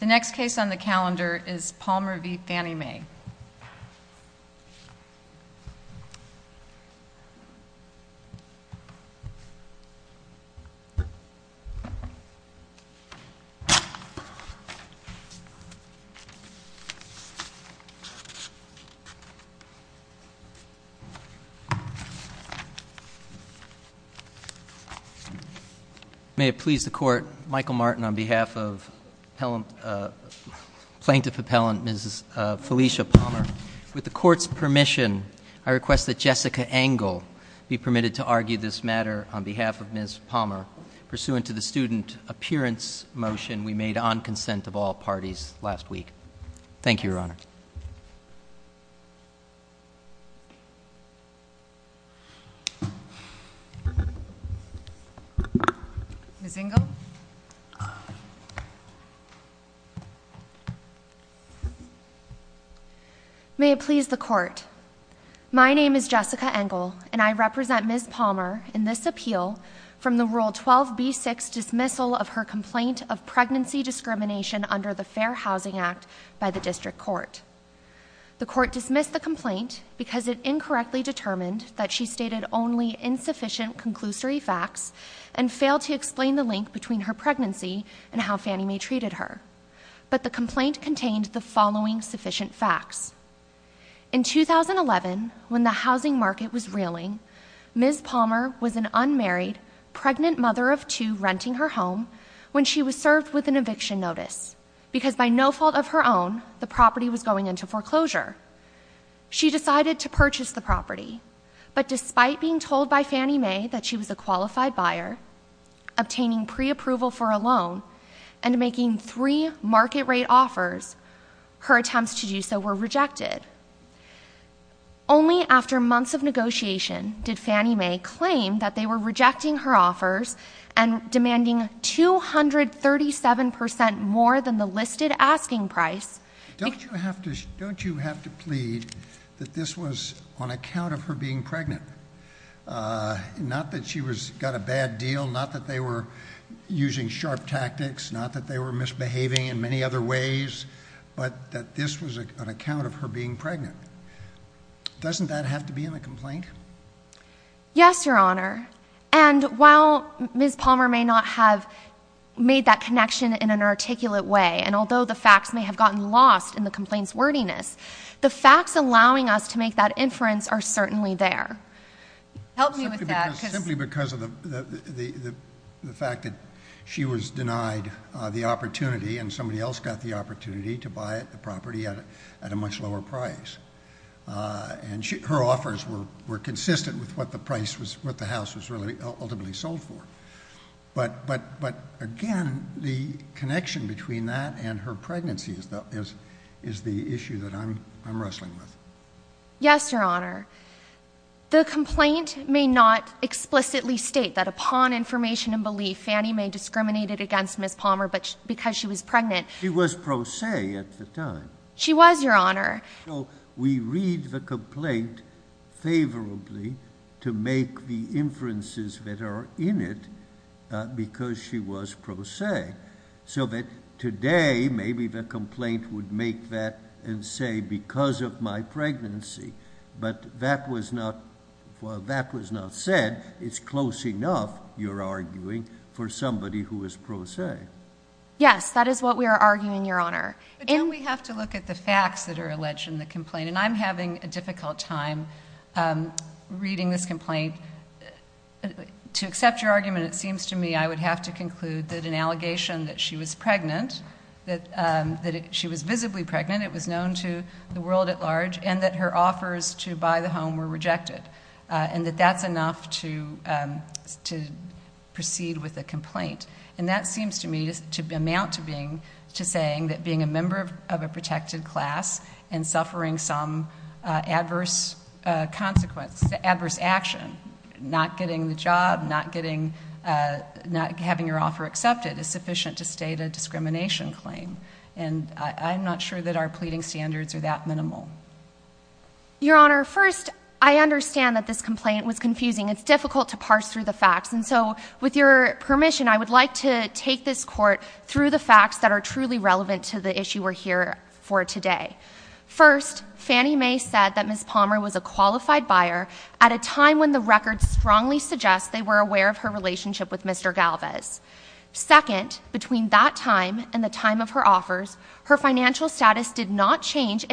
The next case on the calendar is Palmer v. Fannie Mae. May it please the Court, Michael Martin on behalf of Plaintiff Appellant Felicia Palmer. With the Court's permission, I request that Jessica Angle be permitted to argue this matter on behalf of Ms. Palmer pursuant to the student appearance motion we made on consent of all parties last week. Thank you, Your Honor. Ms. Angle. May it please the Court. My name is Jessica Angle, and I represent Ms. Palmer in this appeal from the Rule 12b6 dismissal of her complaint of pregnancy discrimination under the Fair Housing Act by the District Court. The Court dismissed the complaint because it incorrectly determined that she stated only insufficient conclusory facts and failed to explain the link between her pregnancy and how Fannie Mae treated her. But the complaint contained the following sufficient facts. In 2011, when the housing market was reeling, Ms. Palmer was an unmarried, pregnant mother of two renting her home when she was served with an eviction notice, because by no fault of her own, the property was going into foreclosure. She decided to purchase the property, but despite being told by Fannie Mae that she was a qualified buyer, obtaining preapproval for a loan, and making three market-rate offers, her attempts to do so were rejected. Only after months of negotiation did Fannie Mae claim that they were rejecting her offers and demanding 237 percent more than the listed asking price — Don't you have to plead that this was on account of her being pregnant? Not that she got a bad deal, not that they were using sharp tactics, not that they were misbehaving in many other ways, but that this was on account of her being pregnant? Doesn't that have to be in the complaint? Yes, Your Honor. And while Ms. Palmer may not have made that connection in an articulate way, and although the facts may have gotten lost in the complaint's wordiness, the facts allowing us to make that inference are certainly there. Help me with that. Simply because of the fact that she was denied the opportunity and somebody else got the opportunity to buy the property at a much lower price. And her offers were consistent with what the house was ultimately sold for. But again, the connection between that and her pregnancy is the issue that I'm wrestling with. Yes, Your Honor. The complaint may not explicitly state that upon information and belief, Fannie Mae discriminated against Ms. Palmer because she was pregnant. She was pro se at the time. She was, Your Honor. We read the complaint favorably to make the inferences that are in it because she was pro se. So that today, maybe the complaint would make that and say, because of my pregnancy. But that was not, while that was not said, it's close enough, you're arguing, for somebody who is pro se. Yes, that is what we are arguing, Your Honor. But don't we have to look at the facts that are alleged in the complaint? And I'm having a difficult time reading this complaint. To accept your argument, it seems to me I would have to conclude that an allegation that she was pregnant, that she was visibly pregnant, it was known to the world at large, and that her offers to buy the home were rejected. And that that's enough to proceed with a complaint. And that seems to me to amount to saying that being a member of a protected class and suffering some adverse consequence, adverse action, not getting the job, not getting, not having your offer accepted, is sufficient to state a discrimination claim. And I'm not sure that our pleading standards are that minimal. Your Honor, first, I understand that this complaint was confusing. It's difficult to parse through the facts. And so, with your permission, I would like to take this court through the facts that are truly relevant to the issue we're here for today. First, Fannie Mae said that Ms. Palmer was a qualified buyer at a time when the records strongly suggest they were aware of her relationship with Mr. Galvez. Second, between that time and the time of her offers, her financial status did not change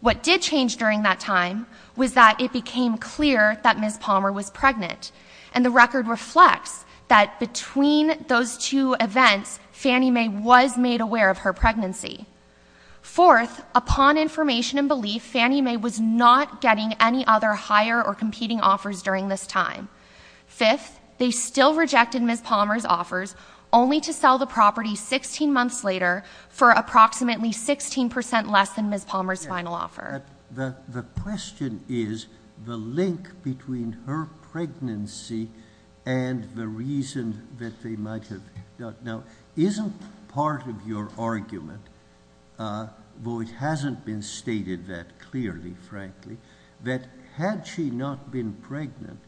What did change during that time was that it became clear that Ms. Palmer was pregnant. And the record reflects that between those two events, Fannie Mae was made aware of her pregnancy. Fourth, upon information and belief, Fannie Mae was not getting any other hire or competing offers during this time. Fifth, they still rejected Ms. Palmer's offers, only to sell the property 16 months later for approximately 16% less than Ms. Palmer's final offer. The question is, the link between her pregnancy and the reason that they might have—now, isn't part of your argument, though it hasn't been stated that clearly, frankly, that had she not been pregnant,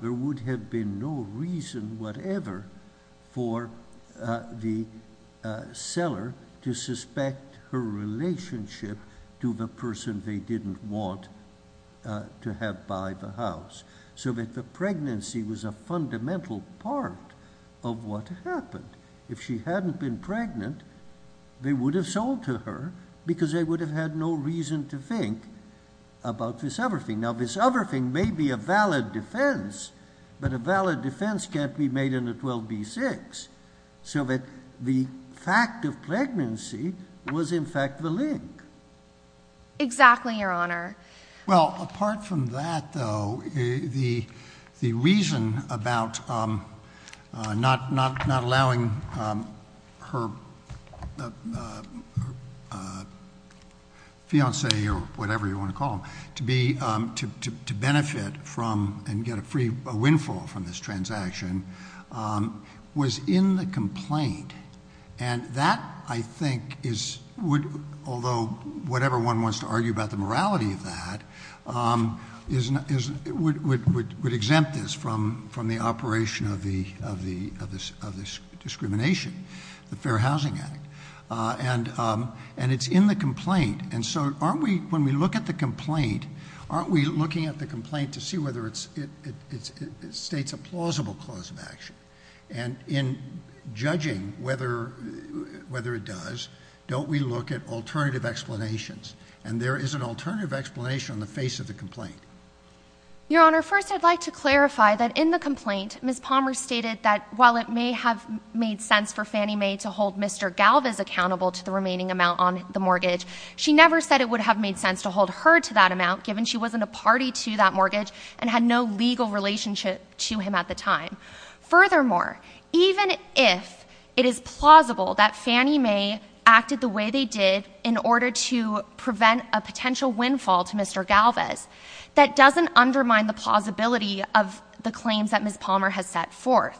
there would have been no reason whatever for the seller to have to suspect her relationship to the person they didn't want to have buy the house. So that the pregnancy was a fundamental part of what happened. If she hadn't been pregnant, they would have sold to her because they would have had no reason to think about this other thing. Now, this other thing may be a valid defense, but a valid defense can't be made in a 12b6. So that the fact of pregnancy was in fact the link. Exactly, Your Honor. Well, apart from that, though, the reason about not allowing her fiancé or whatever you want to call him to benefit from and get a free windfall from this transaction was in the complaint. And that, I think, although whatever one wants to argue about the morality of that, would exempt this from the operation of this discrimination, the Fair Housing Act. And it's in the complaint. And so aren't we, when we look at the complaint, aren't we looking at the complaint to see whether it states a plausible clause of action? And in judging whether it does, don't we look at alternative explanations? And there is an alternative explanation on the face of the complaint. Your Honor, first I'd like to clarify that in the complaint, Ms. Palmer stated that while it may have made sense for Fannie Mae to hold Mr. Galvez accountable to the remaining amount on the mortgage, she never said it would have made sense to hold her to that amount given she wasn't a party to that mortgage and had no legal relationship to him at the time. Furthermore, even if it is plausible that Fannie Mae acted the way they did in order to prevent a potential windfall to Mr. Galvez, that doesn't undermine the plausibility of the claims that Ms. Palmer has set forth.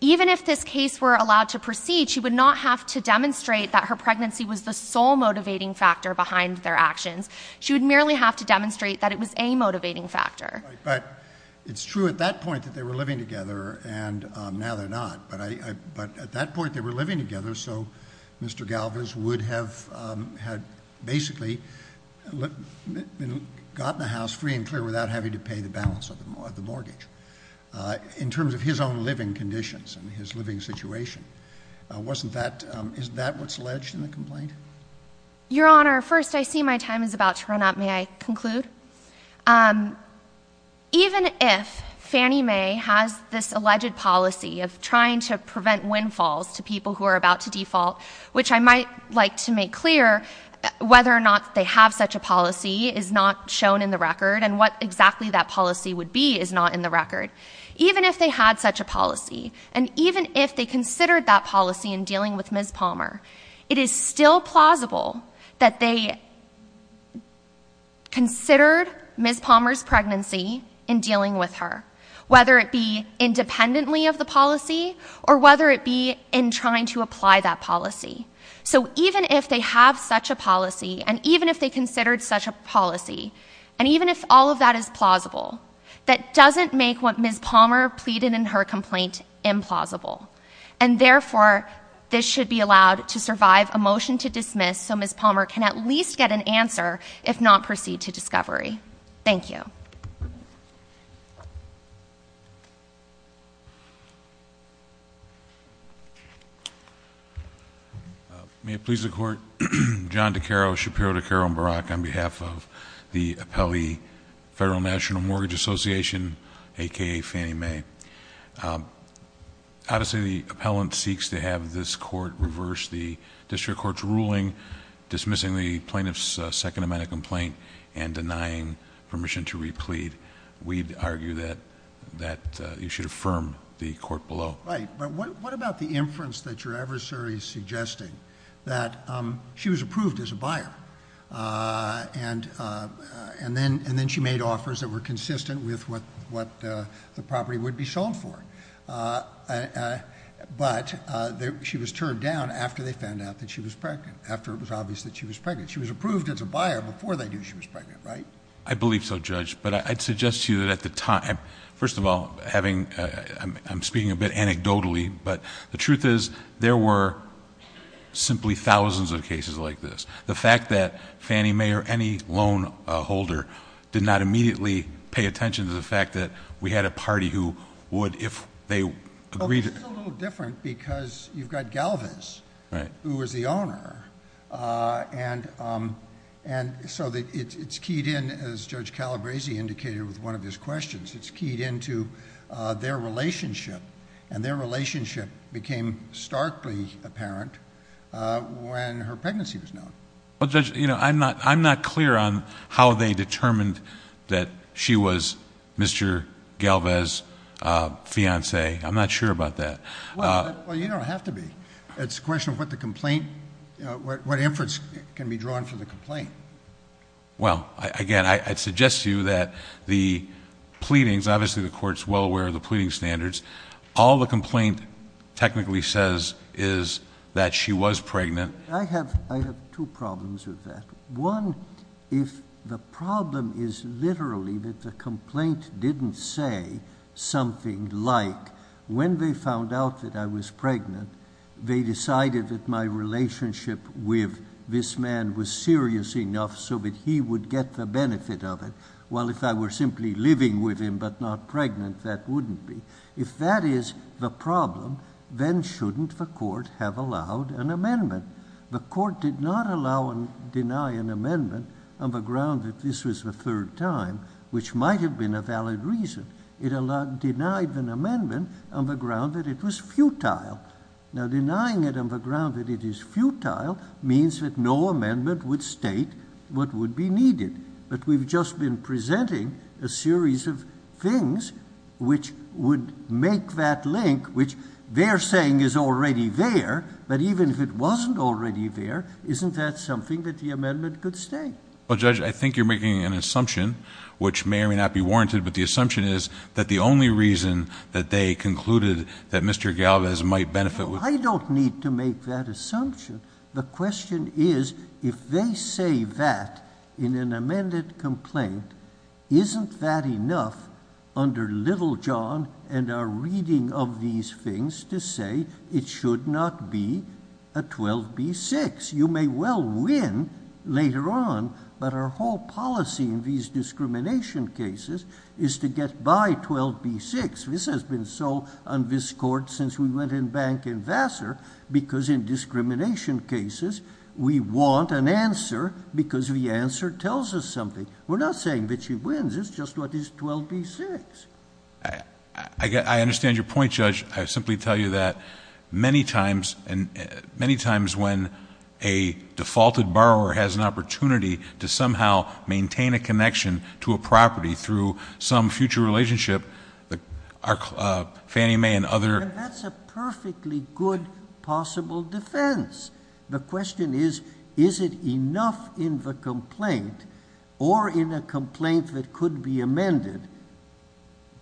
Even if this case were allowed to proceed, she would not have to demonstrate that her pregnancy was the sole motivating factor behind their actions. She would merely have to demonstrate that it was a motivating factor. But it's true at that point that they were living together, and now they're not. But at that point they were living together, so Mr. Galvez would have basically gotten the house free and clear without having to pay the balance of the mortgage, in terms of his own living conditions and his living situation. Is that what's alleged in the complaint? Your Honor, first I see my time is about to run out, may I conclude? Even if Fannie Mae has this alleged policy of trying to prevent windfalls to people who are about to default, which I might like to make clear, whether or not they have such a policy is not shown in the record, and what exactly that policy would be is not in the record. Even if they had such a policy, and even if they considered that policy in dealing with her, it's implausible that they considered Ms. Palmer's pregnancy in dealing with her. Whether it be independently of the policy, or whether it be in trying to apply that policy. So even if they have such a policy, and even if they considered such a policy, and even if all of that is plausible, that doesn't make what Ms. Palmer pleaded in her complaint implausible. And therefore, this should be allowed to survive a motion to dismiss so Ms. Palmer can at least get an answer, if not proceed to discovery. Thank you. May it please the Court, John DeCaro, Shapiro, DeCaro, and Barack, on behalf of the appellee Federal National Mortgage Association, a.k.a. Fannie Mae, obviously the appellant seeks to have this court reverse the district court's ruling, dismissing the plaintiff's second amendment complaint, and denying permission to replead. We'd argue that you should affirm the court below. Right, but what about the inference that your adversary is suggesting, that she was approved as a buyer, and then she made offers that were consistent with what the property would be sold for? But she was turned down after they found out that she was pregnant, after it was obvious that she was pregnant. She was approved as a buyer before they knew she was pregnant, right? I believe so, Judge, but I'd suggest to you that at the time... first of all, I'm speaking a bit anecdotally, but the truth is there were simply thousands of cases like this. The fact that Fannie Mae or any loan holder did not immediately pay attention to the fact that we had a party who would, if they agreed... Well, this is a little different because you've got Galvez, who was the owner, and so it's keyed in, as Judge Calabresi indicated with one of his questions, it's keyed into their relationship, and their relationship became starkly apparent when her pregnancy was known. Well, Judge, I'm not clear on how they determined that she was Mr. Galvez's fiancée. I'm not sure about that. Well, you don't have to be. It's a question of what the complaint... what inference can be drawn from the complaint. Well, again, I'd suggest to you that the pleadings... obviously the Court's well aware of the pleading standards. All the complaint technically says is that she was pregnant. I have two problems with that. One, if the problem is literally that the complaint didn't say something like, when they found out that I was pregnant, they decided that my relationship with this man was serious enough so that he would get the benefit of it, while if I were simply living with him but not pregnant, that wouldn't be. If that is the problem, then shouldn't the Court have allowed an amendment? The Court did not allow and deny an amendment on the ground that this was the third time, which might have been a valid reason. It denied an amendment on the ground that it was futile. Now denying it on the ground that it is futile means that no amendment would state what would be needed. But we've just been presenting a series of things which would make that link, which they're saying is already there, but even if it wasn't already there, isn't that something that the amendment could state? Well, Judge, I think you're making an assumption, which may or may not be warranted, but the assumption is that the only reason that they concluded that Mr. Galvez might benefit... No, I don't need to make that assumption. The question is, if they say that in an amended complaint, isn't that enough under Little John and our reading of these things to say it should not be a 12b-6? You may well win later on, but our whole policy in these discrimination cases is to get by 12b-6. This has been so on this Court since we went in bank in Vassar, because in discrimination cases, we want an answer because the answer tells us something. We're not saying that she wins, it's just what is 12b-6. I understand your point, Judge. I simply tell you that many times when a defaulted borrower has an opportunity to somehow maintain a connection to a property through some future relationship, Fannie Mae and other... That's a perfectly good possible defense. The question is, is it enough in the complaint or in a complaint that could be amended,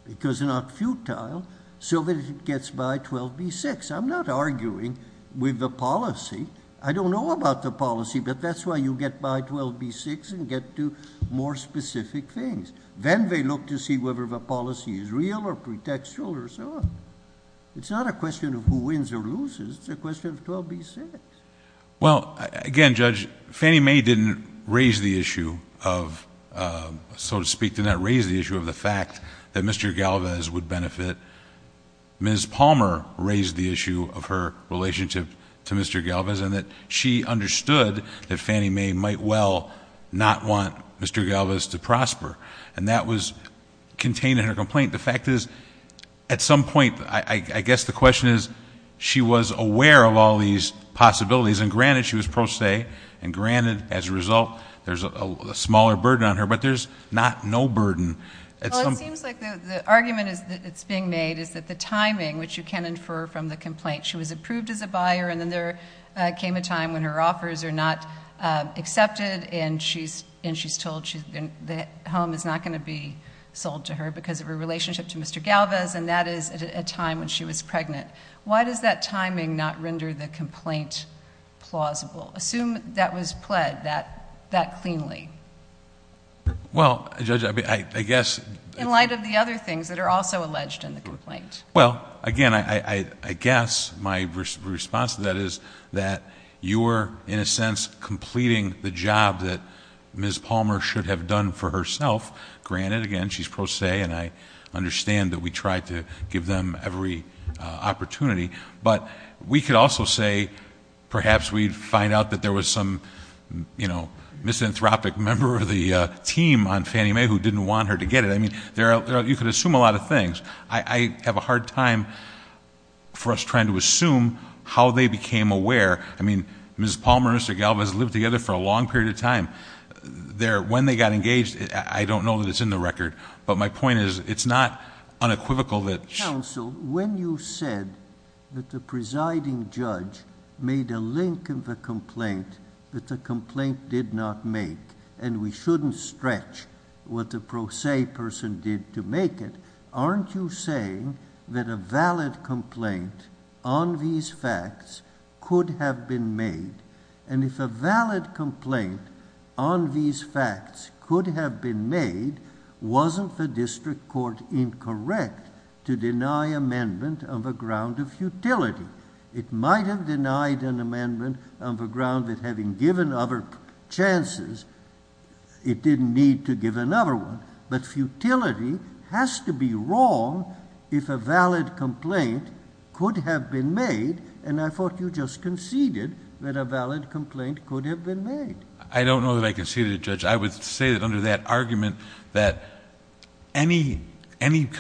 because not futile, so that it gets by 12b-6? I'm not arguing with the policy. I don't know about the policy, but that's why you get by 12b-6 and get to more specific things. Then they look to see whether the policy is real or pretextual or so on. It's not a question of who wins or loses, it's a question of 12b-6. Well, again, Judge, Fannie Mae didn't raise the issue of... so to speak, did not raise the issue of the fact that Mr. Galvez would benefit. Ms. Palmer raised the issue of her relationship to Mr. Galvez, and that she understood that Fannie Mae might well not want Mr. Galvez to prosper. That was contained in her complaint. The fact is, at some point, I guess the question is, she was aware of all these possibilities, and granted, she was pro se, and granted, as a result, there's a smaller burden on her, but there's not no burden... The point that Fannie Mae made is that the timing, which you can infer from the complaint, she was approved as a buyer, and then there came a time when her offers are not accepted, and she's told that the home is not going to be sold to her because of her relationship to Mr. Galvez, and that is at a time when she was pregnant. Why does that timing not render the complaint plausible? Assume that was pled that cleanly. Well, Judge, I guess... Well, again, I guess my response to that is that you were, in a sense, completing the job that Ms. Palmer should have done for herself. Granted, again, she's pro se, and I understand that we tried to give them every opportunity, but we could also say, perhaps we'd find out that there was some, you know, misanthropic member of the team on Fannie Mae who didn't want her to get it. I mean, you could assume a lot of things. I have a hard time for us trying to assume how they became aware. I mean, Ms. Palmer and Mr. Galvez lived together for a long period of time. When they got engaged, I don't know that it's in the record, but my point is, it's not unequivocal that... Counsel, when you said that the presiding judge made a link in the complaint that the complaint did not make, and we shouldn't stretch what the pro se person did to make it, aren't you saying that a valid complaint on these facts could have been made? If a valid complaint on these facts could have been made, wasn't the district court incorrect to deny amendment on the ground of futility? It might have denied an amendment on the ground that having given other chances, it didn't need to give another one, but futility has to be wrong if a valid complaint could have been made, and I thought you just conceded that a valid complaint could have been made. I don't know that I conceded it, Judge. I would say that under that argument that any... I mean,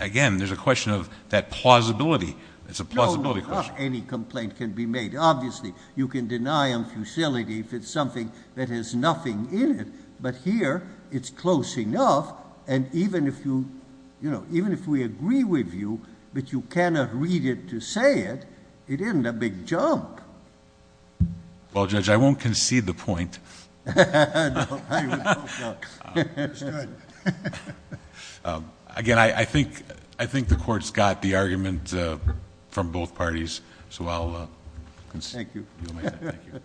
again, there's a question of that plausibility. It's a plausibility question. No, not any complaint can be made. Obviously, you can deny on futility if it's something that has nothing in it, but here it's close enough, and even if we agree with you but you cannot read it to say it, it isn't a big jump. Well, Judge, I won't concede the point. No, I would hope not. Again, I think the court's got the argument from both parties. So I'll... Thank you....... do my thing. Thank you.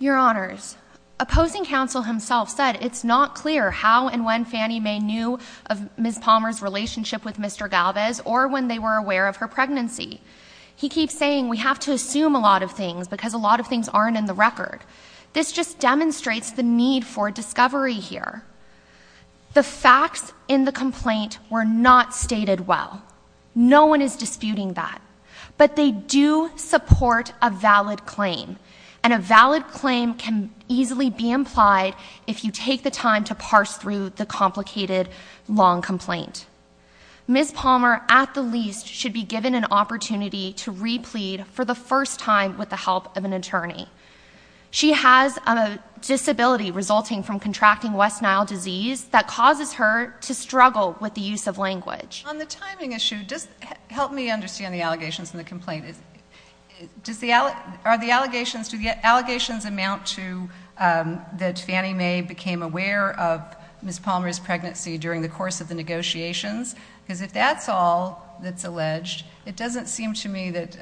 Your Honors, opposing counsel himself said it's not clear how and when Fannie Mae knew of Ms. Palmer's relationship with Mr. Galvez or when they were aware of her pregnancy. He keeps saying we have to assume a lot of things because a lot of things aren't in the case. This just demonstrates the need for discovery here. The facts in the complaint were not stated well. No one is disputing that, but they do support a valid claim, and a valid claim can easily be implied if you take the time to parse through the complicated, long complaint. Ms. Palmer, at the least, should be given an opportunity to replead for the first time with the help of an attorney. She has a disability resulting from contracting West Nile disease that causes her to struggle with the use of language. On the timing issue, just help me understand the allegations in the complaint. Are the allegations... do the allegations amount to that Fannie Mae became aware of Ms. Palmer's pregnancy during the course of the negotiations? Because if that's all that's alleged, it doesn't seem to me that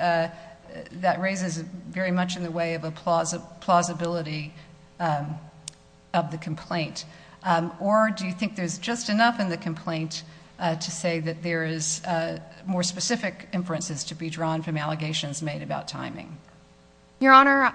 that raises very much in the way of a plausibility of the complaint. Or do you think there's just enough in the complaint to say that there is more specific inferences to be drawn from allegations made about timing? Your Honor,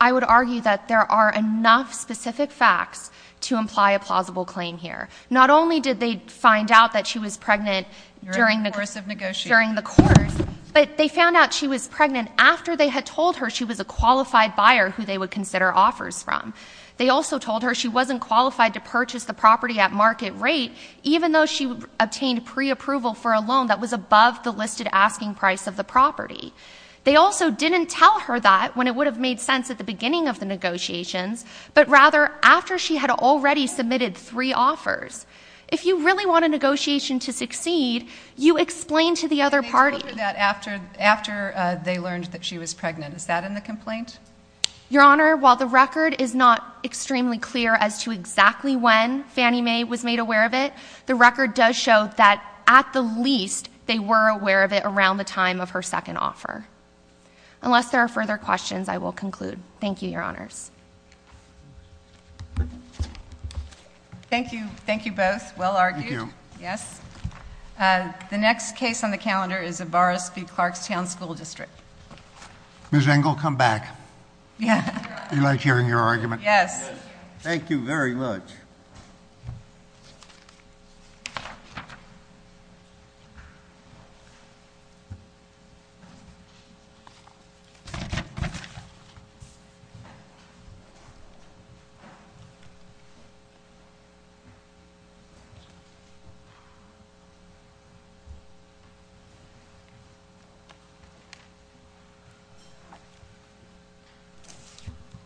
I would argue that there are enough specific facts to imply a plausible claim here. Not only did they find out that she was pregnant during the course, but they found out she was pregnant after they had told her she was a qualified buyer who they would consider offers from. They also told her she wasn't qualified to purchase the property at market rate, even though she obtained pre-approval for a loan that was above the listed asking price of the property. They also didn't tell her that when it would have made sense at the beginning of the negotiations, but rather after she had already submitted three offers. If you really want a negotiation to succeed, you explain to the other party... They learned that she was pregnant. Is that in the complaint? Your Honor, while the record is not extremely clear as to exactly when Fannie Mae was made aware of it, the record does show that, at the least, they were aware of it around the time of her second offer. Unless there are further questions, I will conclude. Thank you, Your Honors. Thank you. Thank you both. Well argued. Thank you. Yes. The next case on the calendar is Zobarowski-Clarkstown School District. Ms. Engel, come back. Yes, Your Honor. We like hearing your argument. Yes. Thank you very much. Thank you.